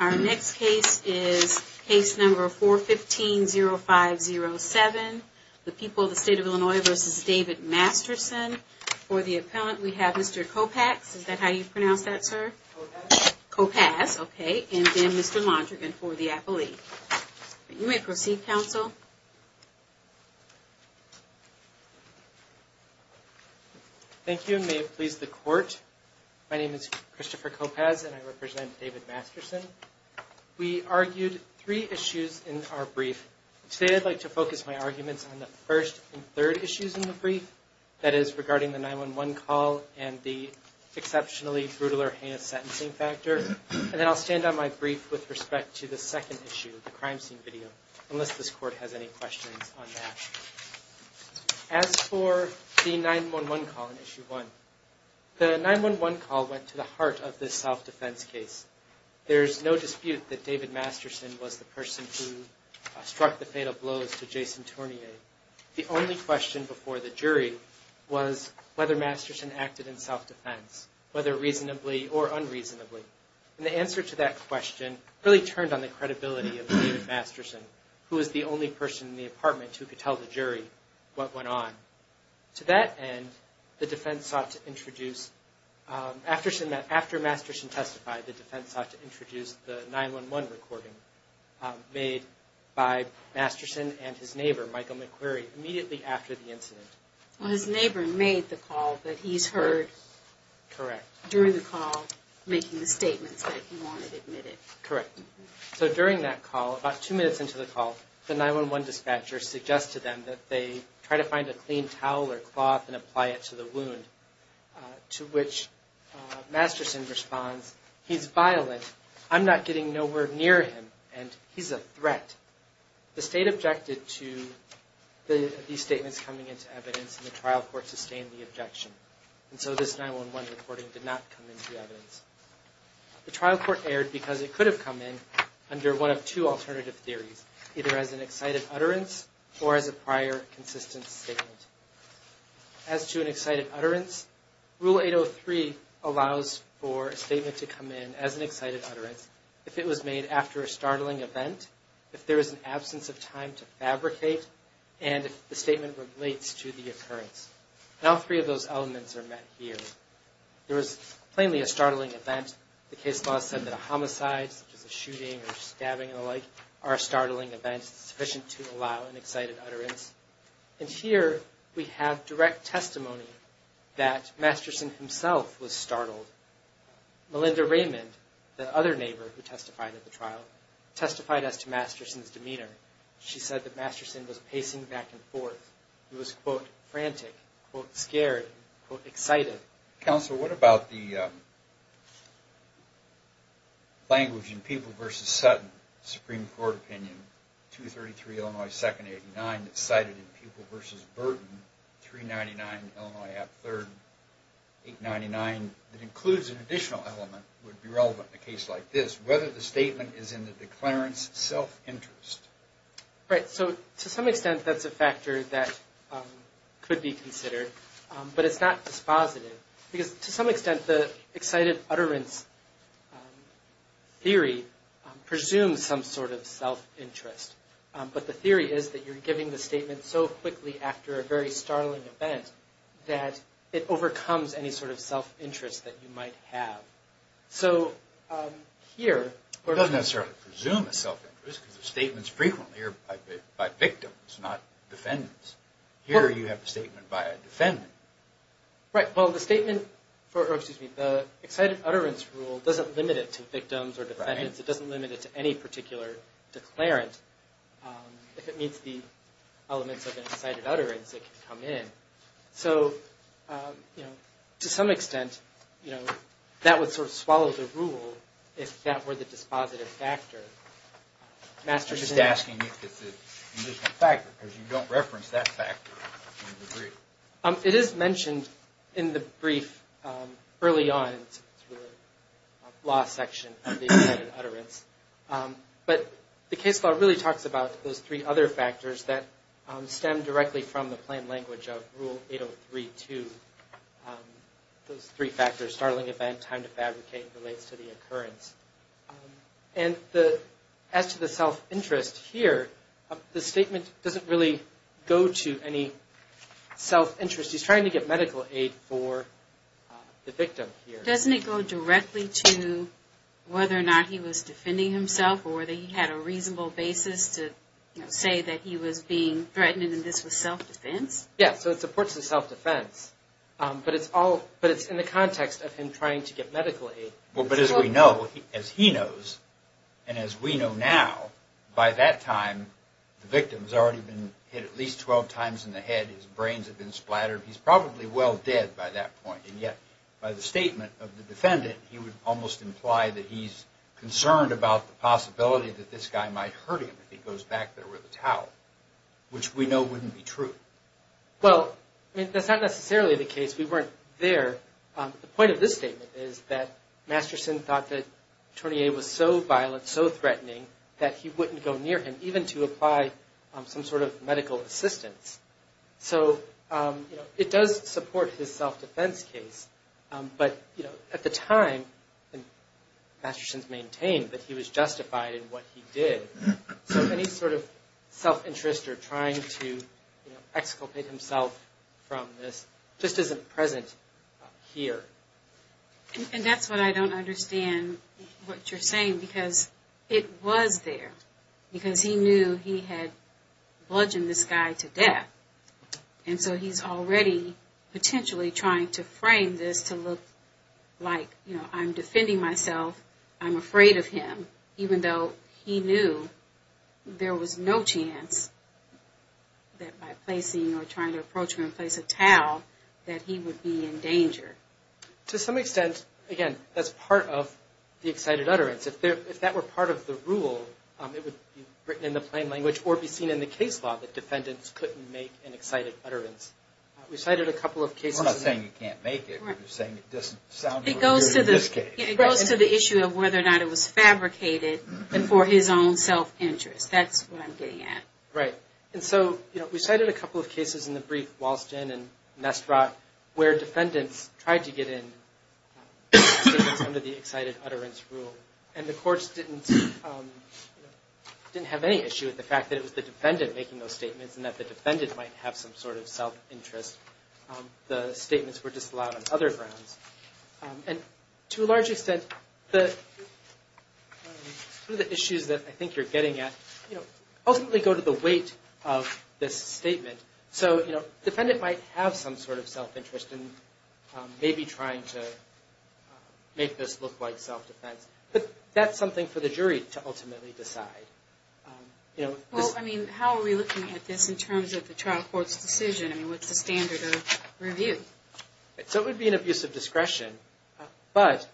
Our next case is case number 415-0507, the people of the state of Illinois v. David Masterson. For the appellant we have Mr. Kopacz, is that how you pronounce that, sir? Kopacz. Kopacz, okay, and then Mr. Londrigan for the appellee. You may proceed, counsel. Thank you, and may it please the court. My name is Christopher Kopacz and I represent David Masterson. We argued three issues in our brief. Today I'd like to focus my arguments on the first and third issues in the brief, that is regarding the 911 call and the exceptionally brutal or heinous sentencing factor, and then I'll stand on my brief with respect to the second issue, the crime scene video, unless this court has any questions on that. As for the 911 call in issue 1, the 911 call went to the heart of this self-defense case. There's no dispute that David Masterson was the person who struck the fatal blows to Jason Tournier. The only question before the jury was whether Masterson acted in self-defense, whether reasonably or unreasonably, and the answer to that question really turned on the credibility of David Masterson, who was the only person in the apartment who could tell the jury what went on. To that end, the defense sought to introduce, after Masterson testified, the defense sought to introduce the 911 recording made by Masterson and his neighbor, Michael McQuarrie, immediately after the incident. Well, his neighbor made the call, but he's heard... Correct. ...during the call making the statements that he wanted admitted. Correct. So during that call, about two minutes into the call, the 911 dispatcher suggests to them that they try to find a clean towel or cloth and apply it to the wound, to which Masterson responds, he's violent, I'm not getting nowhere near him, and he's a threat. The state objected to these statements coming into evidence, and the trial court sustained the objection, and so this 911 recording did not come into evidence. The trial court erred because it could have come in under one of two alternative theories, either as an excited utterance or as a prior consistent statement. As to an excited utterance, Rule 803 allows for a statement to come in as an excited utterance if it was made after a startling event, if there is an absence of time to fabricate, and if the statement relates to the occurrence. And all three of those elements are met here. There was plainly a startling event. The case law said that a homicide, such as a shooting or stabbing and the like, are startling events sufficient to allow an excited utterance. And here we have direct testimony that Masterson himself was startled. Melinda Raymond, the other neighbor who testified at the trial, testified as to Masterson's demeanor. She said that Masterson was pacing back and forth. He was, quote, frantic, quote, scared, quote, excited. Counsel, what about the language in People v. Sutton, Supreme Court opinion, 233 Illinois 2nd 89, that's cited in People v. Burton, 399 Illinois at 3rd 899, that includes an additional element that would be relevant in a case like this, whether the statement is in the declarant's self-interest. Right, so to some extent that's a factor that could be considered, but it's not dispositive. Because to some extent the excited utterance theory presumes some sort of self-interest. But the theory is that you're giving the statement so quickly after a very startling event that it overcomes any sort of self-interest that you might have. So here... It doesn't necessarily presume a self-interest because statements frequently are by victims, not defendants. Here you have a statement by a defendant. Right, well, the statement, or excuse me, the excited utterance rule doesn't limit it to victims or defendants. It doesn't limit it to any particular declarant. If it meets the elements of an excited utterance, it can come in. So, you know, to some extent, you know, that would sort of swallow the rule if that were the dispositive factor. I'm just asking if it's an additional factor because you don't reference that factor in the brief. It is mentioned in the brief early on in the law section of the excited utterance. But the case law really talks about those three other factors that stem directly from the plain language of Rule 803-2. Those three factors, startling event, time to fabricate, relates to the occurrence. And as to the self-interest here, the statement doesn't really go to any self-interest. He's trying to get medical aid for the victim here. But doesn't it go directly to whether or not he was defending himself or whether he had a reasonable basis to say that he was being threatened and this was self-defense? Yeah, so it supports the self-defense. But it's all, but it's in the context of him trying to get medical aid. Well, but as we know, as he knows, and as we know now, by that time, the victim's already been hit at least 12 times in the head. His brains have been splattered. He's probably well dead by that point. And yet, by the statement of the defendant, he would almost imply that he's concerned about the possibility that this guy might hurt him if he goes back there with a towel, which we know wouldn't be true. Well, I mean, that's not necessarily the case. We weren't there. The point of this statement is that Masterson thought that Tournier was so violent, so threatening, that he wouldn't go near him, even to apply some sort of medical assistance. So, you know, it does support his self-defense case. But, you know, at the time, Masterson's maintained that he was justified in what he did. So any sort of self-interest or trying to, you know, exculpate himself from this just isn't present here. And that's what I don't understand what you're saying. Because it was there. Because he knew he had bludgeoned this guy to death. And so he's already potentially trying to frame this to look like, you know, I'm defending myself, I'm afraid of him. And even though he knew there was no chance that by placing or trying to approach him and place a towel, that he would be in danger. To some extent, again, that's part of the excited utterance. If that were part of the rule, it would be written in the plain language or be seen in the case law that defendants couldn't make an excited utterance. We cited a couple of cases. We're not saying you can't make it. We're saying it doesn't sound good in this case. It goes to the issue of whether or not it was fabricated for his own self-interest. That's what I'm getting at. Right. And so, you know, we cited a couple of cases in the brief, Walston and Nestrock, where defendants tried to get in statements under the excited utterance rule. And the courts didn't have any issue with the fact that it was the defendant making those statements and that the defendant might have some sort of self-interest. The statements were disallowed on other grounds. And to a large extent, the issues that I think you're getting at, you know, ultimately go to the weight of this statement. So, you know, the defendant might have some sort of self-interest in maybe trying to make this look like self-defense. But that's something for the jury to ultimately decide. Well, I mean, how are we looking at this in terms of the trial court's decision? I mean, what's the standard of review? So it would be an abuse of discretion. But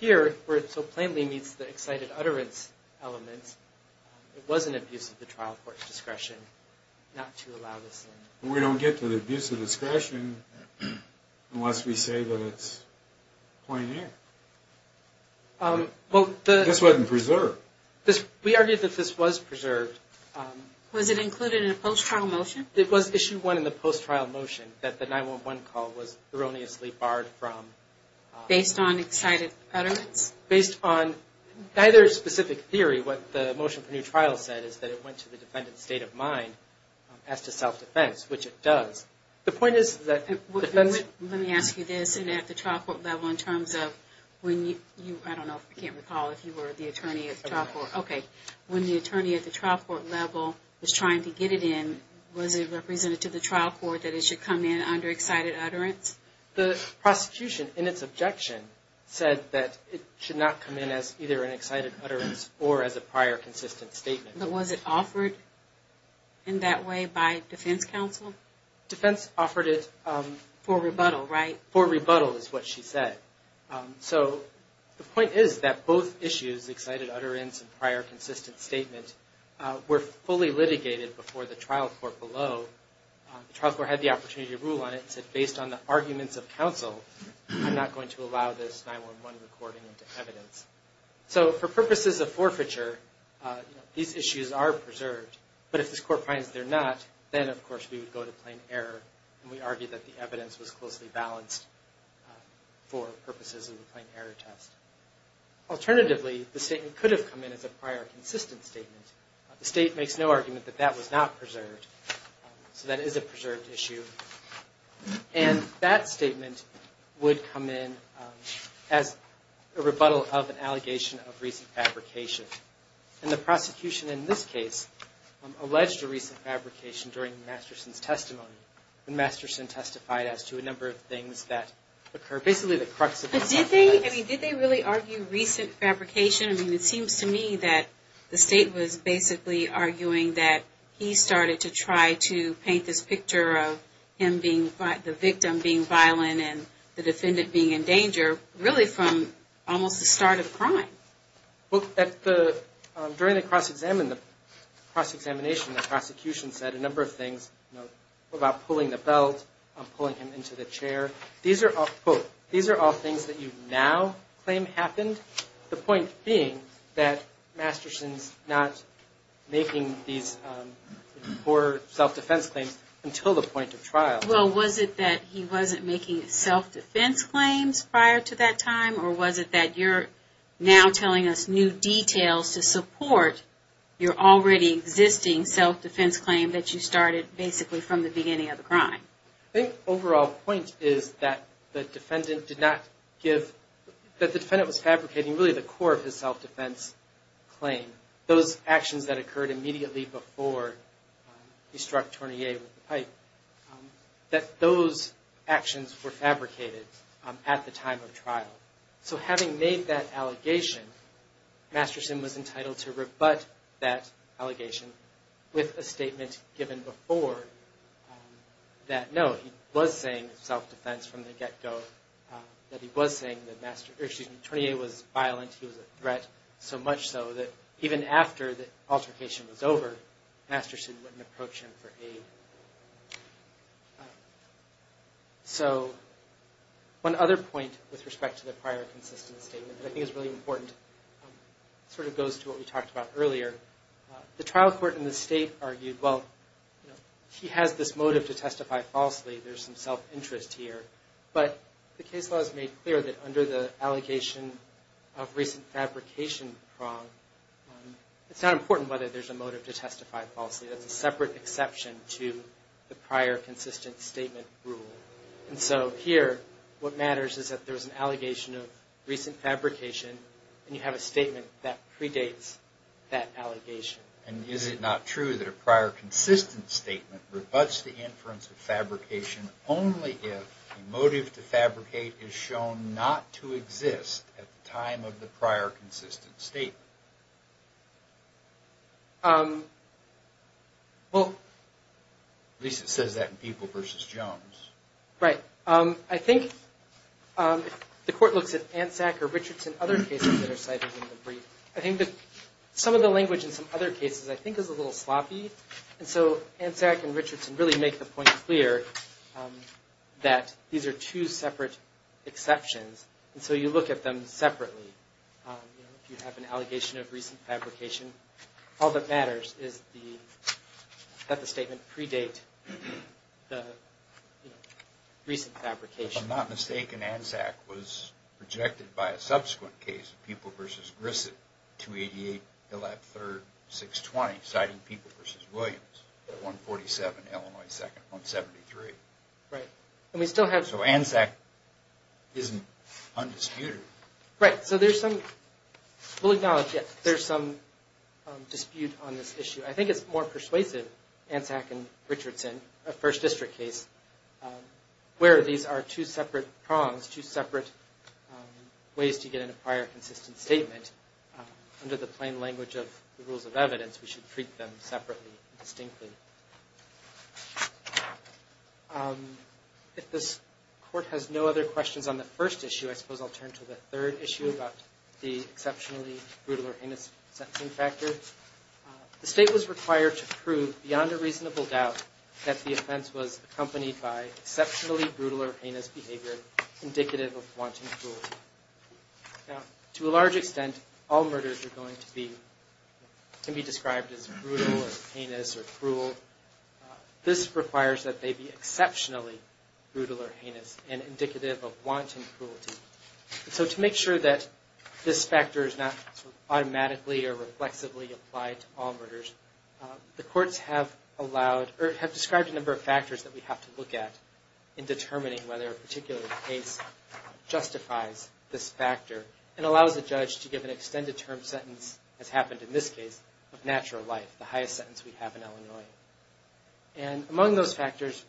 here, where it so plainly meets the excited utterance elements, it was an abuse of the trial court's discretion not to allow this. We don't get to the abuse of discretion unless we say that it's plain air. This wasn't preserved. We argued that this was preserved. Was it included in a post-trial motion? It was Issue 1 in the post-trial motion that the 9-1-1 call was erroneously barred from... Based on excited utterance? Based on neither specific theory. What the motion for new trial said is that it went to the defendant's state of mind as to self-defense, which it does. The point is that... Let me ask you this. And at the trial court level, in terms of when you... I don't know if I can recall if you were the attorney at the trial court. Okay. When the attorney at the trial court level was trying to get it in, was it represented to the trial court that it should come in under excited utterance? The prosecution, in its objection, said that it should not come in as either an excited utterance or as a prior consistent statement. But was it offered in that way by defense counsel? Defense offered it... For rebuttal, right? For rebuttal is what she said. So the point is that both issues, excited utterance and prior consistent statement, were fully litigated before the trial court below. The trial court had the opportunity to rule on it and said, based on the arguments of counsel, I'm not going to allow this 9-1-1 recording into evidence. So for purposes of forfeiture, these issues are preserved. But if this court finds they're not, then, of course, we would go to plain error. And we argue that the evidence was closely balanced for purposes of a plain error test. Alternatively, the statement could have come in as a prior consistent statement. The state makes no argument that that was not preserved. So that is a preserved issue. And that statement would come in as a rebuttal of an allegation of recent fabrication. And the prosecution in this case alleged a recent fabrication during Masterson's testimony. And Masterson testified as to a number of things that occur. Basically, the crux of... Did they really argue recent fabrication? I mean, it seems to me that the state was basically arguing that he started to try to paint this picture of him being the victim being violent and the defendant being in danger really from almost the start of the crime. During the cross-examination, the prosecution said a number of things about pulling the belt, pulling him into the chair. These are all things that you now claim happened. The point being that Masterson's not making these poor self-defense claims until the point of trial. Well, was it that he wasn't making self-defense claims prior to that time? Or was it that you're now telling us new details to support your already existing self-defense claim that you started basically from the beginning of the crime? I think the overall point is that the defendant did not give... that those actions were fabricated at the time of trial. So having made that allegation, Masterson was entitled to rebut that allegation with a statement given before that, no, he was saying self-defense from the get-go, that he was saying that Attorney A was violent, he was a threat, so much so that even after the altercation was over, Masterson wouldn't approach him for aid. So one other point with respect to the prior consistent statement that I think is really important, sort of goes to what we talked about earlier. The trial court in the state argued, well, he has this motive to testify falsely. There's some self-interest here. But the case law has made clear that under the allegation of recent fabrication prong, it's not important whether there's a motive to testify falsely. That's a separate exception to the prior consistent statement rule. And so here, what matters is that there's an allegation of recent fabrication, and you have a statement that predates that allegation. And is it not true that a prior consistent statement rebuts the inference of fabrication only if the motive to fabricate is shown not to exist at the time of the prior consistent statement? At least it says that in People v. Jones. Right. I think the court looks at ANSAC or Richardson, other cases that are cited in the brief. I think that some of the language in some other cases I think is a little sloppy. And so ANSAC and Richardson really make the point clear that these are two separate exceptions, and so you look at them separately. If you have an allegation of recent fabrication, all that matters is that the statement predate the recent fabrication. If I'm not mistaken, ANSAC was rejected by a subsequent case, People v. Grissett, 288 Hillett 3rd, 620, citing People v. Williams, 147 Illinois 2nd, 173. Right. And we still have... So ANSAC isn't undisputed. Right. So there's some... We'll acknowledge that there's some dispute on this issue. I think it's more persuasive, ANSAC and Richardson, a First District case, where these are two separate prongs, two separate ways to get in a prior consistent statement. Under the plain language of the rules of evidence, we should treat them separately and distinctly. If this Court has no other questions on the first issue, I suppose I'll turn to the third issue about the exceptionally brutal or heinous sentencing factor. The State was required to prove beyond a reasonable doubt that the offense was accompanied by exceptionally brutal or heinous behavior indicative of wanton cruelty. Now, to a large extent, all murders are going to be... can be described as brutal or heinous or cruel. This requires that they be exceptionally brutal or heinous and indicative of wanton cruelty. And so to make sure that this factor is not automatically or reflexively applied to all murders, the Courts have allowed... or have described a number of factors that we have to look at in determining whether a particular case justifies this factor and allows a judge to give an extended term sentence, as happened in this case, of natural life, the highest sentence we have in Illinois. And among those factors,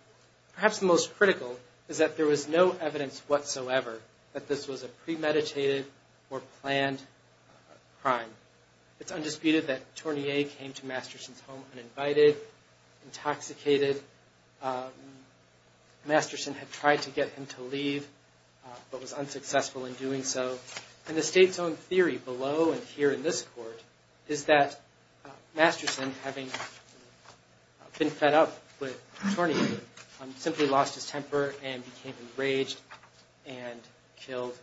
perhaps the most critical is that there was no evidence whatsoever that this was a premeditated or planned crime. It's undisputed that Tournier came to Masterson's home uninvited, intoxicated. Masterson had tried to get him to leave but was unsuccessful in doing so. And the State's own theory below and here in this Court is that Masterson, having been fed up with Tournier, simply lost his temper and became enraged and killed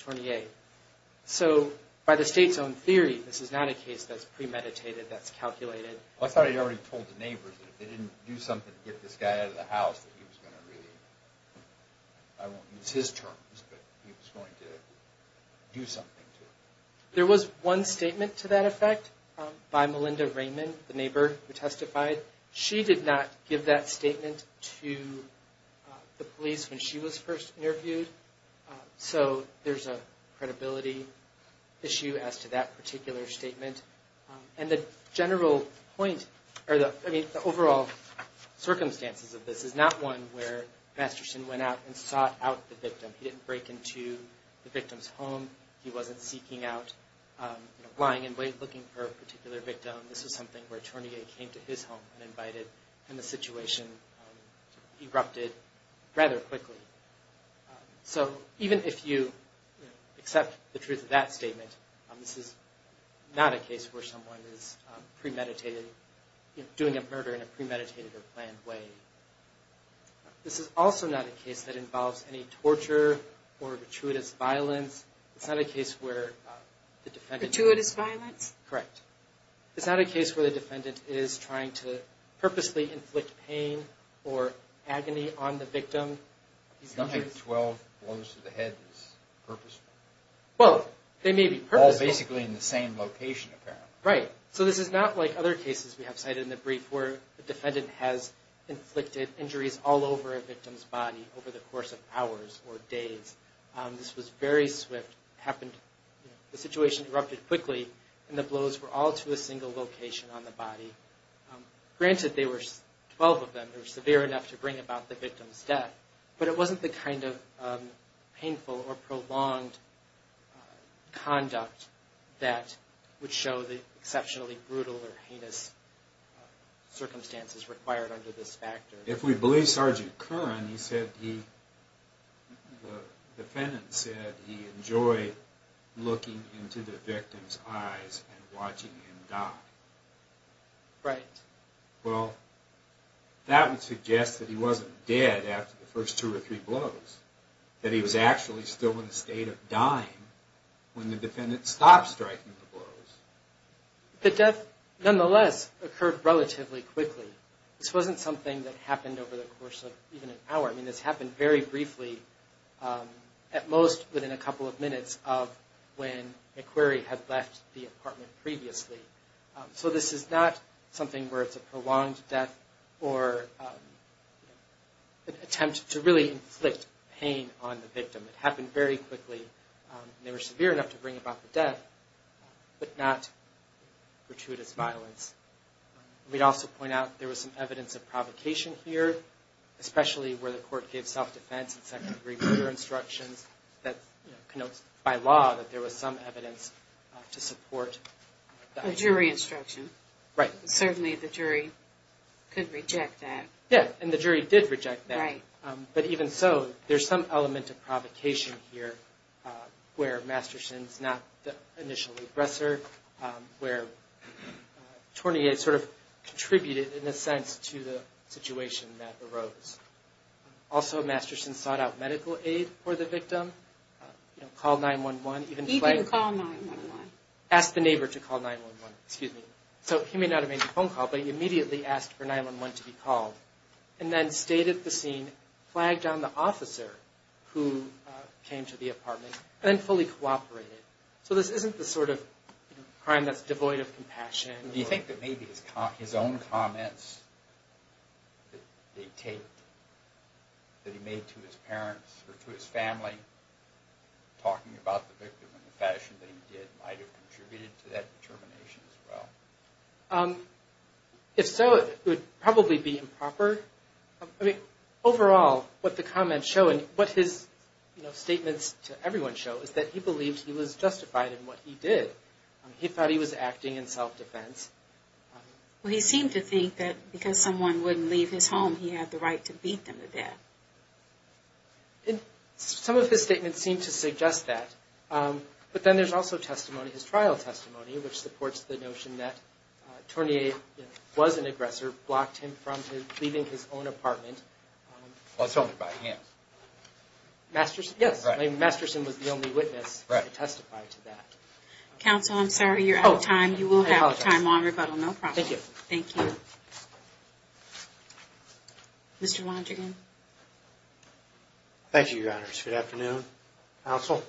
Tournier. So by the State's own theory, this is not a case that's premeditated, that's calculated. I thought you already told the neighbors that if they didn't do something to get this guy out of the house that he was going to really... I won't use his terms, but he was going to do something to him. There was one statement to that effect by Melinda Raymond, the neighbor who testified. She did not give that statement to the police when she was first interviewed. So there's a credibility issue as to that particular statement. And the general point or the overall circumstances of this is not one where Masterson went out and sought out the victim. He didn't break into the victim's home. He wasn't seeking out, lying in wait looking for a particular victim. This was something where Tournier came to his home uninvited and the situation erupted rather quickly. So even if you accept the truth of that statement, this is not a case where someone is premeditated, doing a murder in a premeditated or planned way. This is also not a case that involves any torture or gratuitous violence. It's not a case where the defendant... Gratuitous violence? Correct. It's not a case where the defendant is trying to purposely inflict pain or agony on the victim. It's not like 12 blows to the head is purposeful. Well, they may be purposeful. All basically in the same location apparently. Right. So this is not like other cases we have cited in the brief where the defendant has inflicted injuries all over a victim's body over the course of hours or days. This was very swift. The situation erupted quickly and the blows were all to a single location on the body. Granted, 12 of them were severe enough to bring about the victim's death, but it wasn't the kind of painful or prolonged conduct that would show the exceptionally brutal or heinous circumstances required under this factor. If we believe Sergeant Curran, the defendant said he enjoyed looking into the victim's eyes and watching him die. Right. Well, that would suggest that he wasn't dead after the first two or three blows, that he was actually still in a state of dying when the defendant stopped striking the blows. The death, nonetheless, occurred relatively quickly. This wasn't something that happened over the course of even an hour. I mean, this happened very briefly, at most within a couple of minutes of when McQuarrie had left the apartment previously. So this is not something where it's a prolonged death or an attempt to really inflict pain on the victim. It happened very quickly. They were severe enough to bring about the death, but not gratuitous violence. We'd also point out there was some evidence of provocation here, especially where the court gave self-defense and second-degree murder instructions that connotes by law that there was some evidence to support the idea. A jury instruction. Right. Certainly the jury could reject that. Yeah, and the jury did reject that. Right. But even so, there's some element of provocation here where Masterson's not the initial repressor, where Tornier sort of contributed, in a sense, to the situation that arose. Also, Masterson sought out medical aid for the victim, called 911, even flagged it. He didn't call 911. Asked the neighbor to call 911. Excuse me. So he may not have made the phone call, but he immediately asked for 911 to be called, and then stayed at the scene, flagged on the officer who came to the apartment, and then fully cooperated. So this isn't the sort of crime that's devoid of compassion. Do you think that maybe his own comments that he made to his parents or to his family, talking about the victim in the fashion that he did, might have contributed to that determination as well? If so, it would probably be improper. Overall, what the comments show and what his statements to everyone show is that he believed he was justified in what he did. He thought he was acting in self-defense. Well, he seemed to think that because someone wouldn't leave his home, he had the right to beat them to death. Some of his statements seem to suggest that. But then there's also testimony, his trial testimony, which supports the notion that Tornier was an aggressor, blocked him from leaving his own apartment. Well, it's only by him. Masterson? Yes. Masterson was the only witness to testify to that. Counsel, I'm sorry, you're out of time. You will have time longer, but no problem. Thank you. Mr. Wandrigan. Thank you, Your Honors. Good afternoon, Counsel.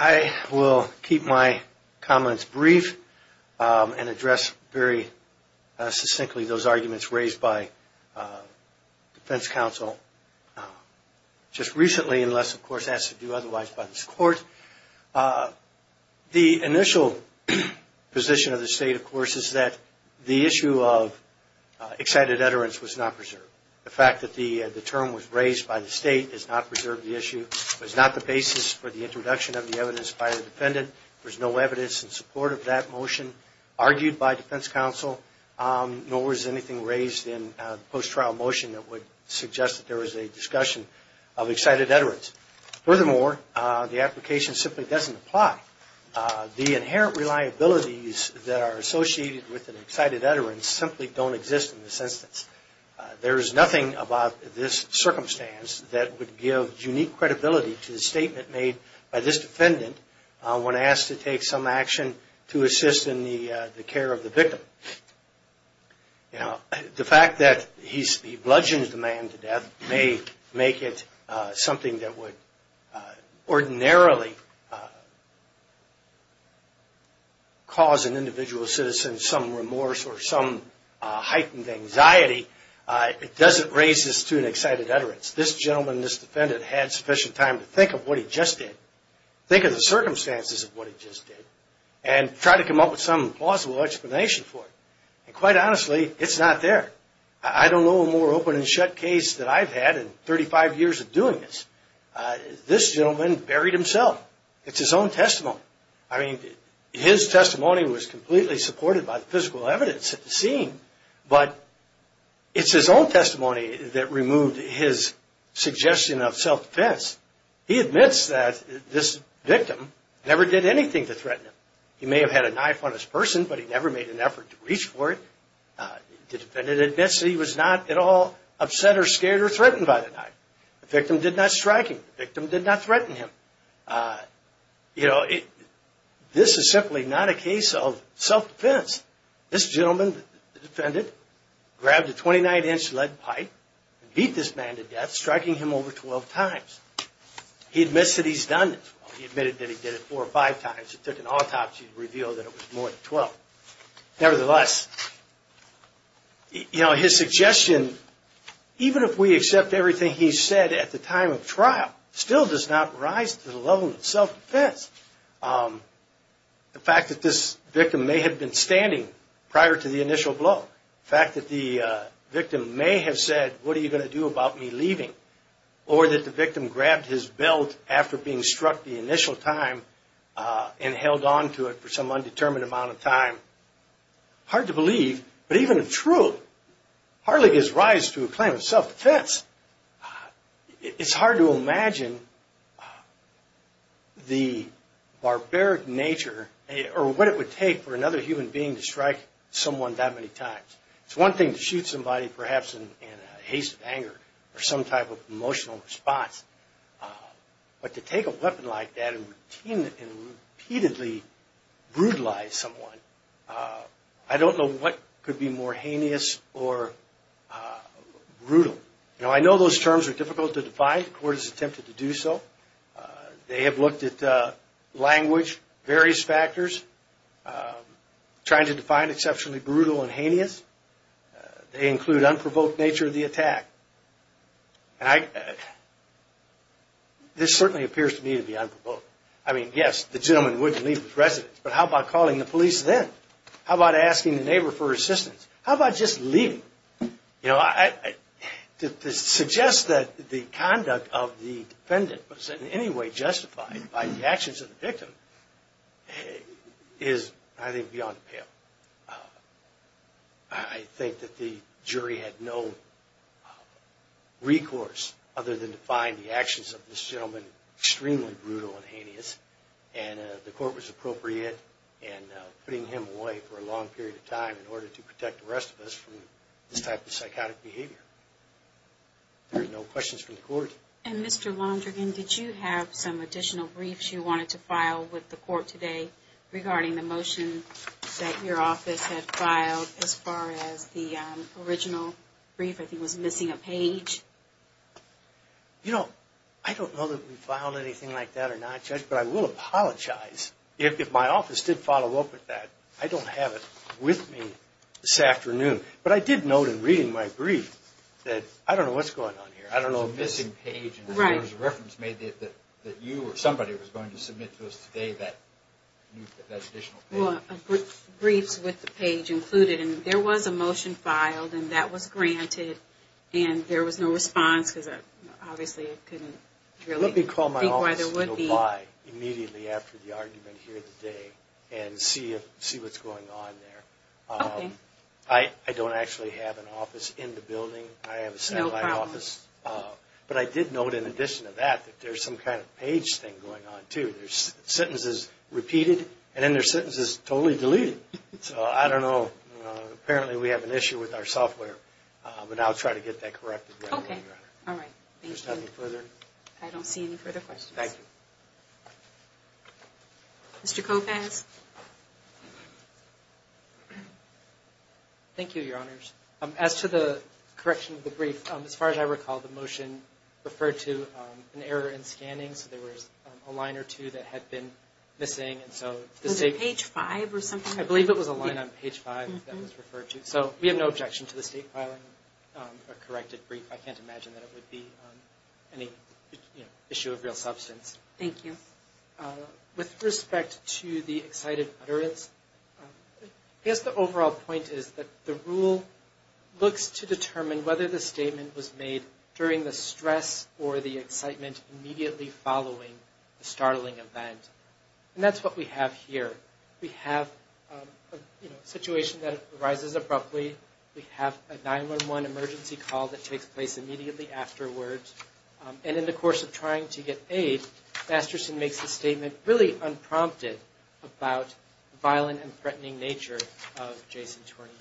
I will keep my comments brief and address very succinctly those arguments raised by Defense Counsel just recently, unless, of course, asked to do otherwise by this Court. The initial position of the State, of course, is that the issue of excited utterance was not preserved. The fact that the term was raised by the State does not preserve the issue. It was not the basis for the introduction of the evidence by the defendant. There's no evidence in support of that motion argued by Defense Counsel, nor is anything raised in the post-trial motion that would suggest that there was a discussion of excited utterance. Furthermore, the application simply doesn't apply. The inherent reliabilities that are associated with an excited utterance simply don't exist in this instance. There is nothing about this circumstance that would give unique credibility to the statement made by this defendant when asked to take some action to assist in the care of the victim. The fact that he bludgeoned the man to death may make it something that would ordinarily be considered a crime. But it doesn't cause an individual citizen some remorse or some heightened anxiety. It doesn't raise this to an excited utterance. This gentleman, this defendant, had sufficient time to think of what he just did, think of the circumstances of what he just did, and try to come up with some plausible explanation for it. And quite honestly, it's not there. I don't know a more open and shut case that I've had in 35 years of doing this. This gentleman buried himself. It's his own testimony. I mean, his testimony was completely supported by the physical evidence at the scene, but it's his own testimony that removed his suggestion of self-defense. He admits that this victim never did anything to threaten him. He may have had a knife on his person, but he never made an effort to reach for it. The defendant admits that he was not at all upset or scared or threatened by the knife. The victim did not strike him. The victim did not threaten him. You know, this is simply not a case of self-defense. This gentleman, the defendant, grabbed a 29-inch lead pipe and beat this man to death, striking him over 12 times. He admits that he's done it. He admitted that he did it four or five times. It took an autopsy to reveal that it was more than 12. Nevertheless, you know, his suggestion, even if we accept everything he said at the time of trial, still does not rise to the level of self-defense. The fact that this victim may have been standing prior to the initial blow, the fact that the victim may have said, what are you going to do about me leaving, or that the victim grabbed his belt after being struck the initial time and held on to it for some undetermined amount of time, hard to believe. But even if true, it hardly gives rise to a claim of self-defense. It's hard to imagine the barbaric nature or what it would take for another human being to strike someone that many times. It's one thing to shoot somebody perhaps in a haste of anger or some type of emotional response, but to take a weapon like that and repeatedly brutalize someone, I don't know what could be more heinous or brutal. You know, I know those terms are difficult to define. The court has attempted to do so. They have looked at language, various factors, trying to define exceptionally brutal and heinous. They include unprovoked nature of the attack. This certainly appears to me to be unprovoked. I mean, yes, the gentleman wouldn't leave his residence, but how about calling the police then? How about asking the neighbor for assistance? How about just leaving? You know, to suggest that the conduct of the defendant was in any way justified by the actions of the victim is, I think, beyond pale. I think that the jury had no recourse other than to find the actions of this gentleman extremely brutal and heinous. And the court was appropriate in putting him away for a long period of time in order to protect the rest of us from this type of psychotic behavior. There are no questions from the court. And Mr. Londrigan, did you have some additional briefs you wanted to file with the court today regarding the motion that your office had filed as far as the original brief? I think it was missing a page. You know, I don't know that we filed anything like that or not, Judge, but I will apologize if my office did follow up with that. I don't have it with me this afternoon. But I did note in reading my brief that, I don't know what's going on here. There was a missing page and there was a reference made that you or somebody was going to submit to us today that additional page. There were briefs with the page included and there was a motion filed and that was granted and there was no response. Let me call my office and apply immediately after the argument here today and see what's going on there. I don't actually have an office in the building. I have a satellite office. But I did note in addition to that that there's some kind of page thing going on too. There's sentences repeated and then there's sentences totally deleted. So I don't know. Apparently we have an issue with our software, but I'll try to get that corrected. Okay. All right. Thank you. I don't see any further questions. Thank you. Mr. Kopacz. Thank you, Your Honors. As to the correction of the brief, as far as I recall, the motion referred to an error in scanning. So there was a line or two that had been missing. Was it page five or something? I believe it was a line on page five that was referred to. So we have no objection to the state filing a corrected brief. I can't imagine that it would be any issue of real substance. Thank you. With respect to the excited utterance, I guess the overall point is that the rule looks to determine whether the statement was made during the stress or the excitement immediately following the startling event. And that's what we have here. We have a situation that arises abruptly. We have a 911 emergency call that takes place immediately afterwards. And in the course of trying to get aid, Masterson makes a statement really unprompted about the violent and threatening nature of Jason Tournier.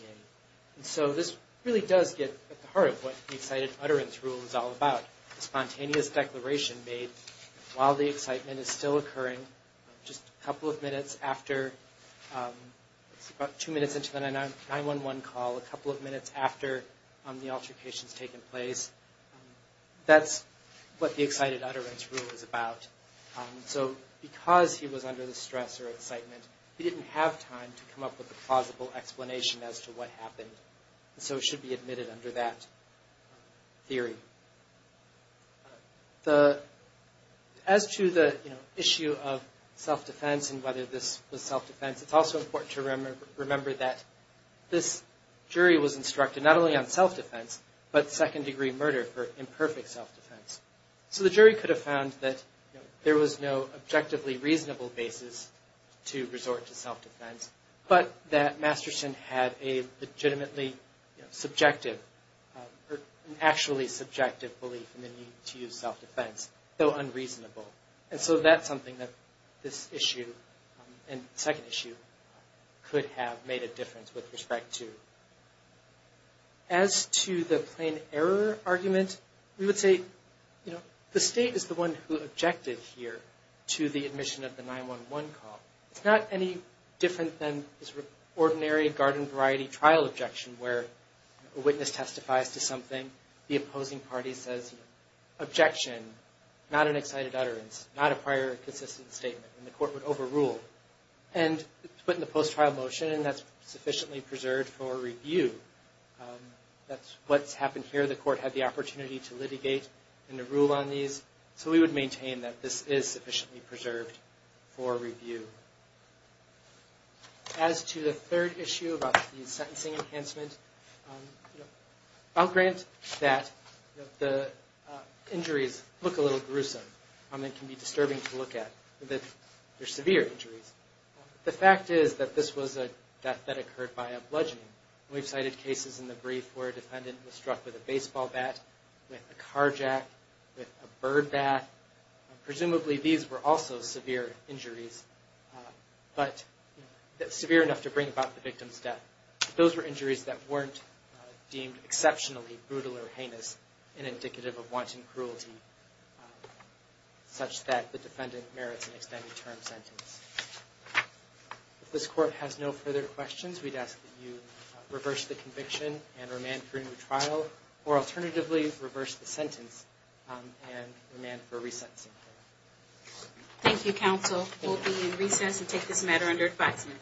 And so this really does get at the heart of what the excited utterance rule is all about. A spontaneous declaration made while the excitement is still occurring, just a couple of minutes after, about two minutes into the 911 call, a couple of minutes after the altercation has taken place. That's what the excited utterance rule is about. So because he was under the stress or excitement, he didn't have time to come up with a plausible explanation as to what happened. So it should be admitted under that theory. As to the issue of self-defense and whether this was self-defense, it's also important to remember that this jury was instructed not only on self-defense, but second-degree murder for imperfect self-defense. So the jury could have found that there was no objectively reasonable basis to resort to self-defense, but that Masterson had a legitimately subjective, or actually subjective belief in the need to use self-defense, though unreasonable. And so that's something that this issue and the second issue could have made a difference with respect to. As to the plain error argument, we would say, you know, the State is the one who objected here to the admission of the 911 call. It's not any different than this ordinary garden variety trial objection, where a witness testifies to something, the opposing party says, objection, not an excited utterance, not a prior consistent statement, and the court would overrule. And it's put in the post-trial motion, and that's sufficiently preserved for review. That's what's happened here. The court had the opportunity to litigate and to rule on these. So we would maintain that this is sufficiently preserved for review. As to the third issue about the sentencing enhancement, I'll grant that the injuries look a little gruesome, and can be disturbing to look at. They're severe injuries. The fact is that this was a death that occurred by a bludgeoning. We've cited cases in the brief where a defendant was struck with a baseball bat, with a car jack, with a bird bat. Presumably these were also severe injuries, but severe enough to bring about the victim's death. Those were injuries that weren't deemed exceptionally brutal or heinous, and indicative of wanton cruelty, such that the defendant merits an extended term sentence. If this Court has no further questions, we'd ask that you reverse the conviction and remand for a new trial, or alternatively, reverse the sentence and remand for a resentencing. Thank you, counsel. We'll be in recess and take this matter under advisement.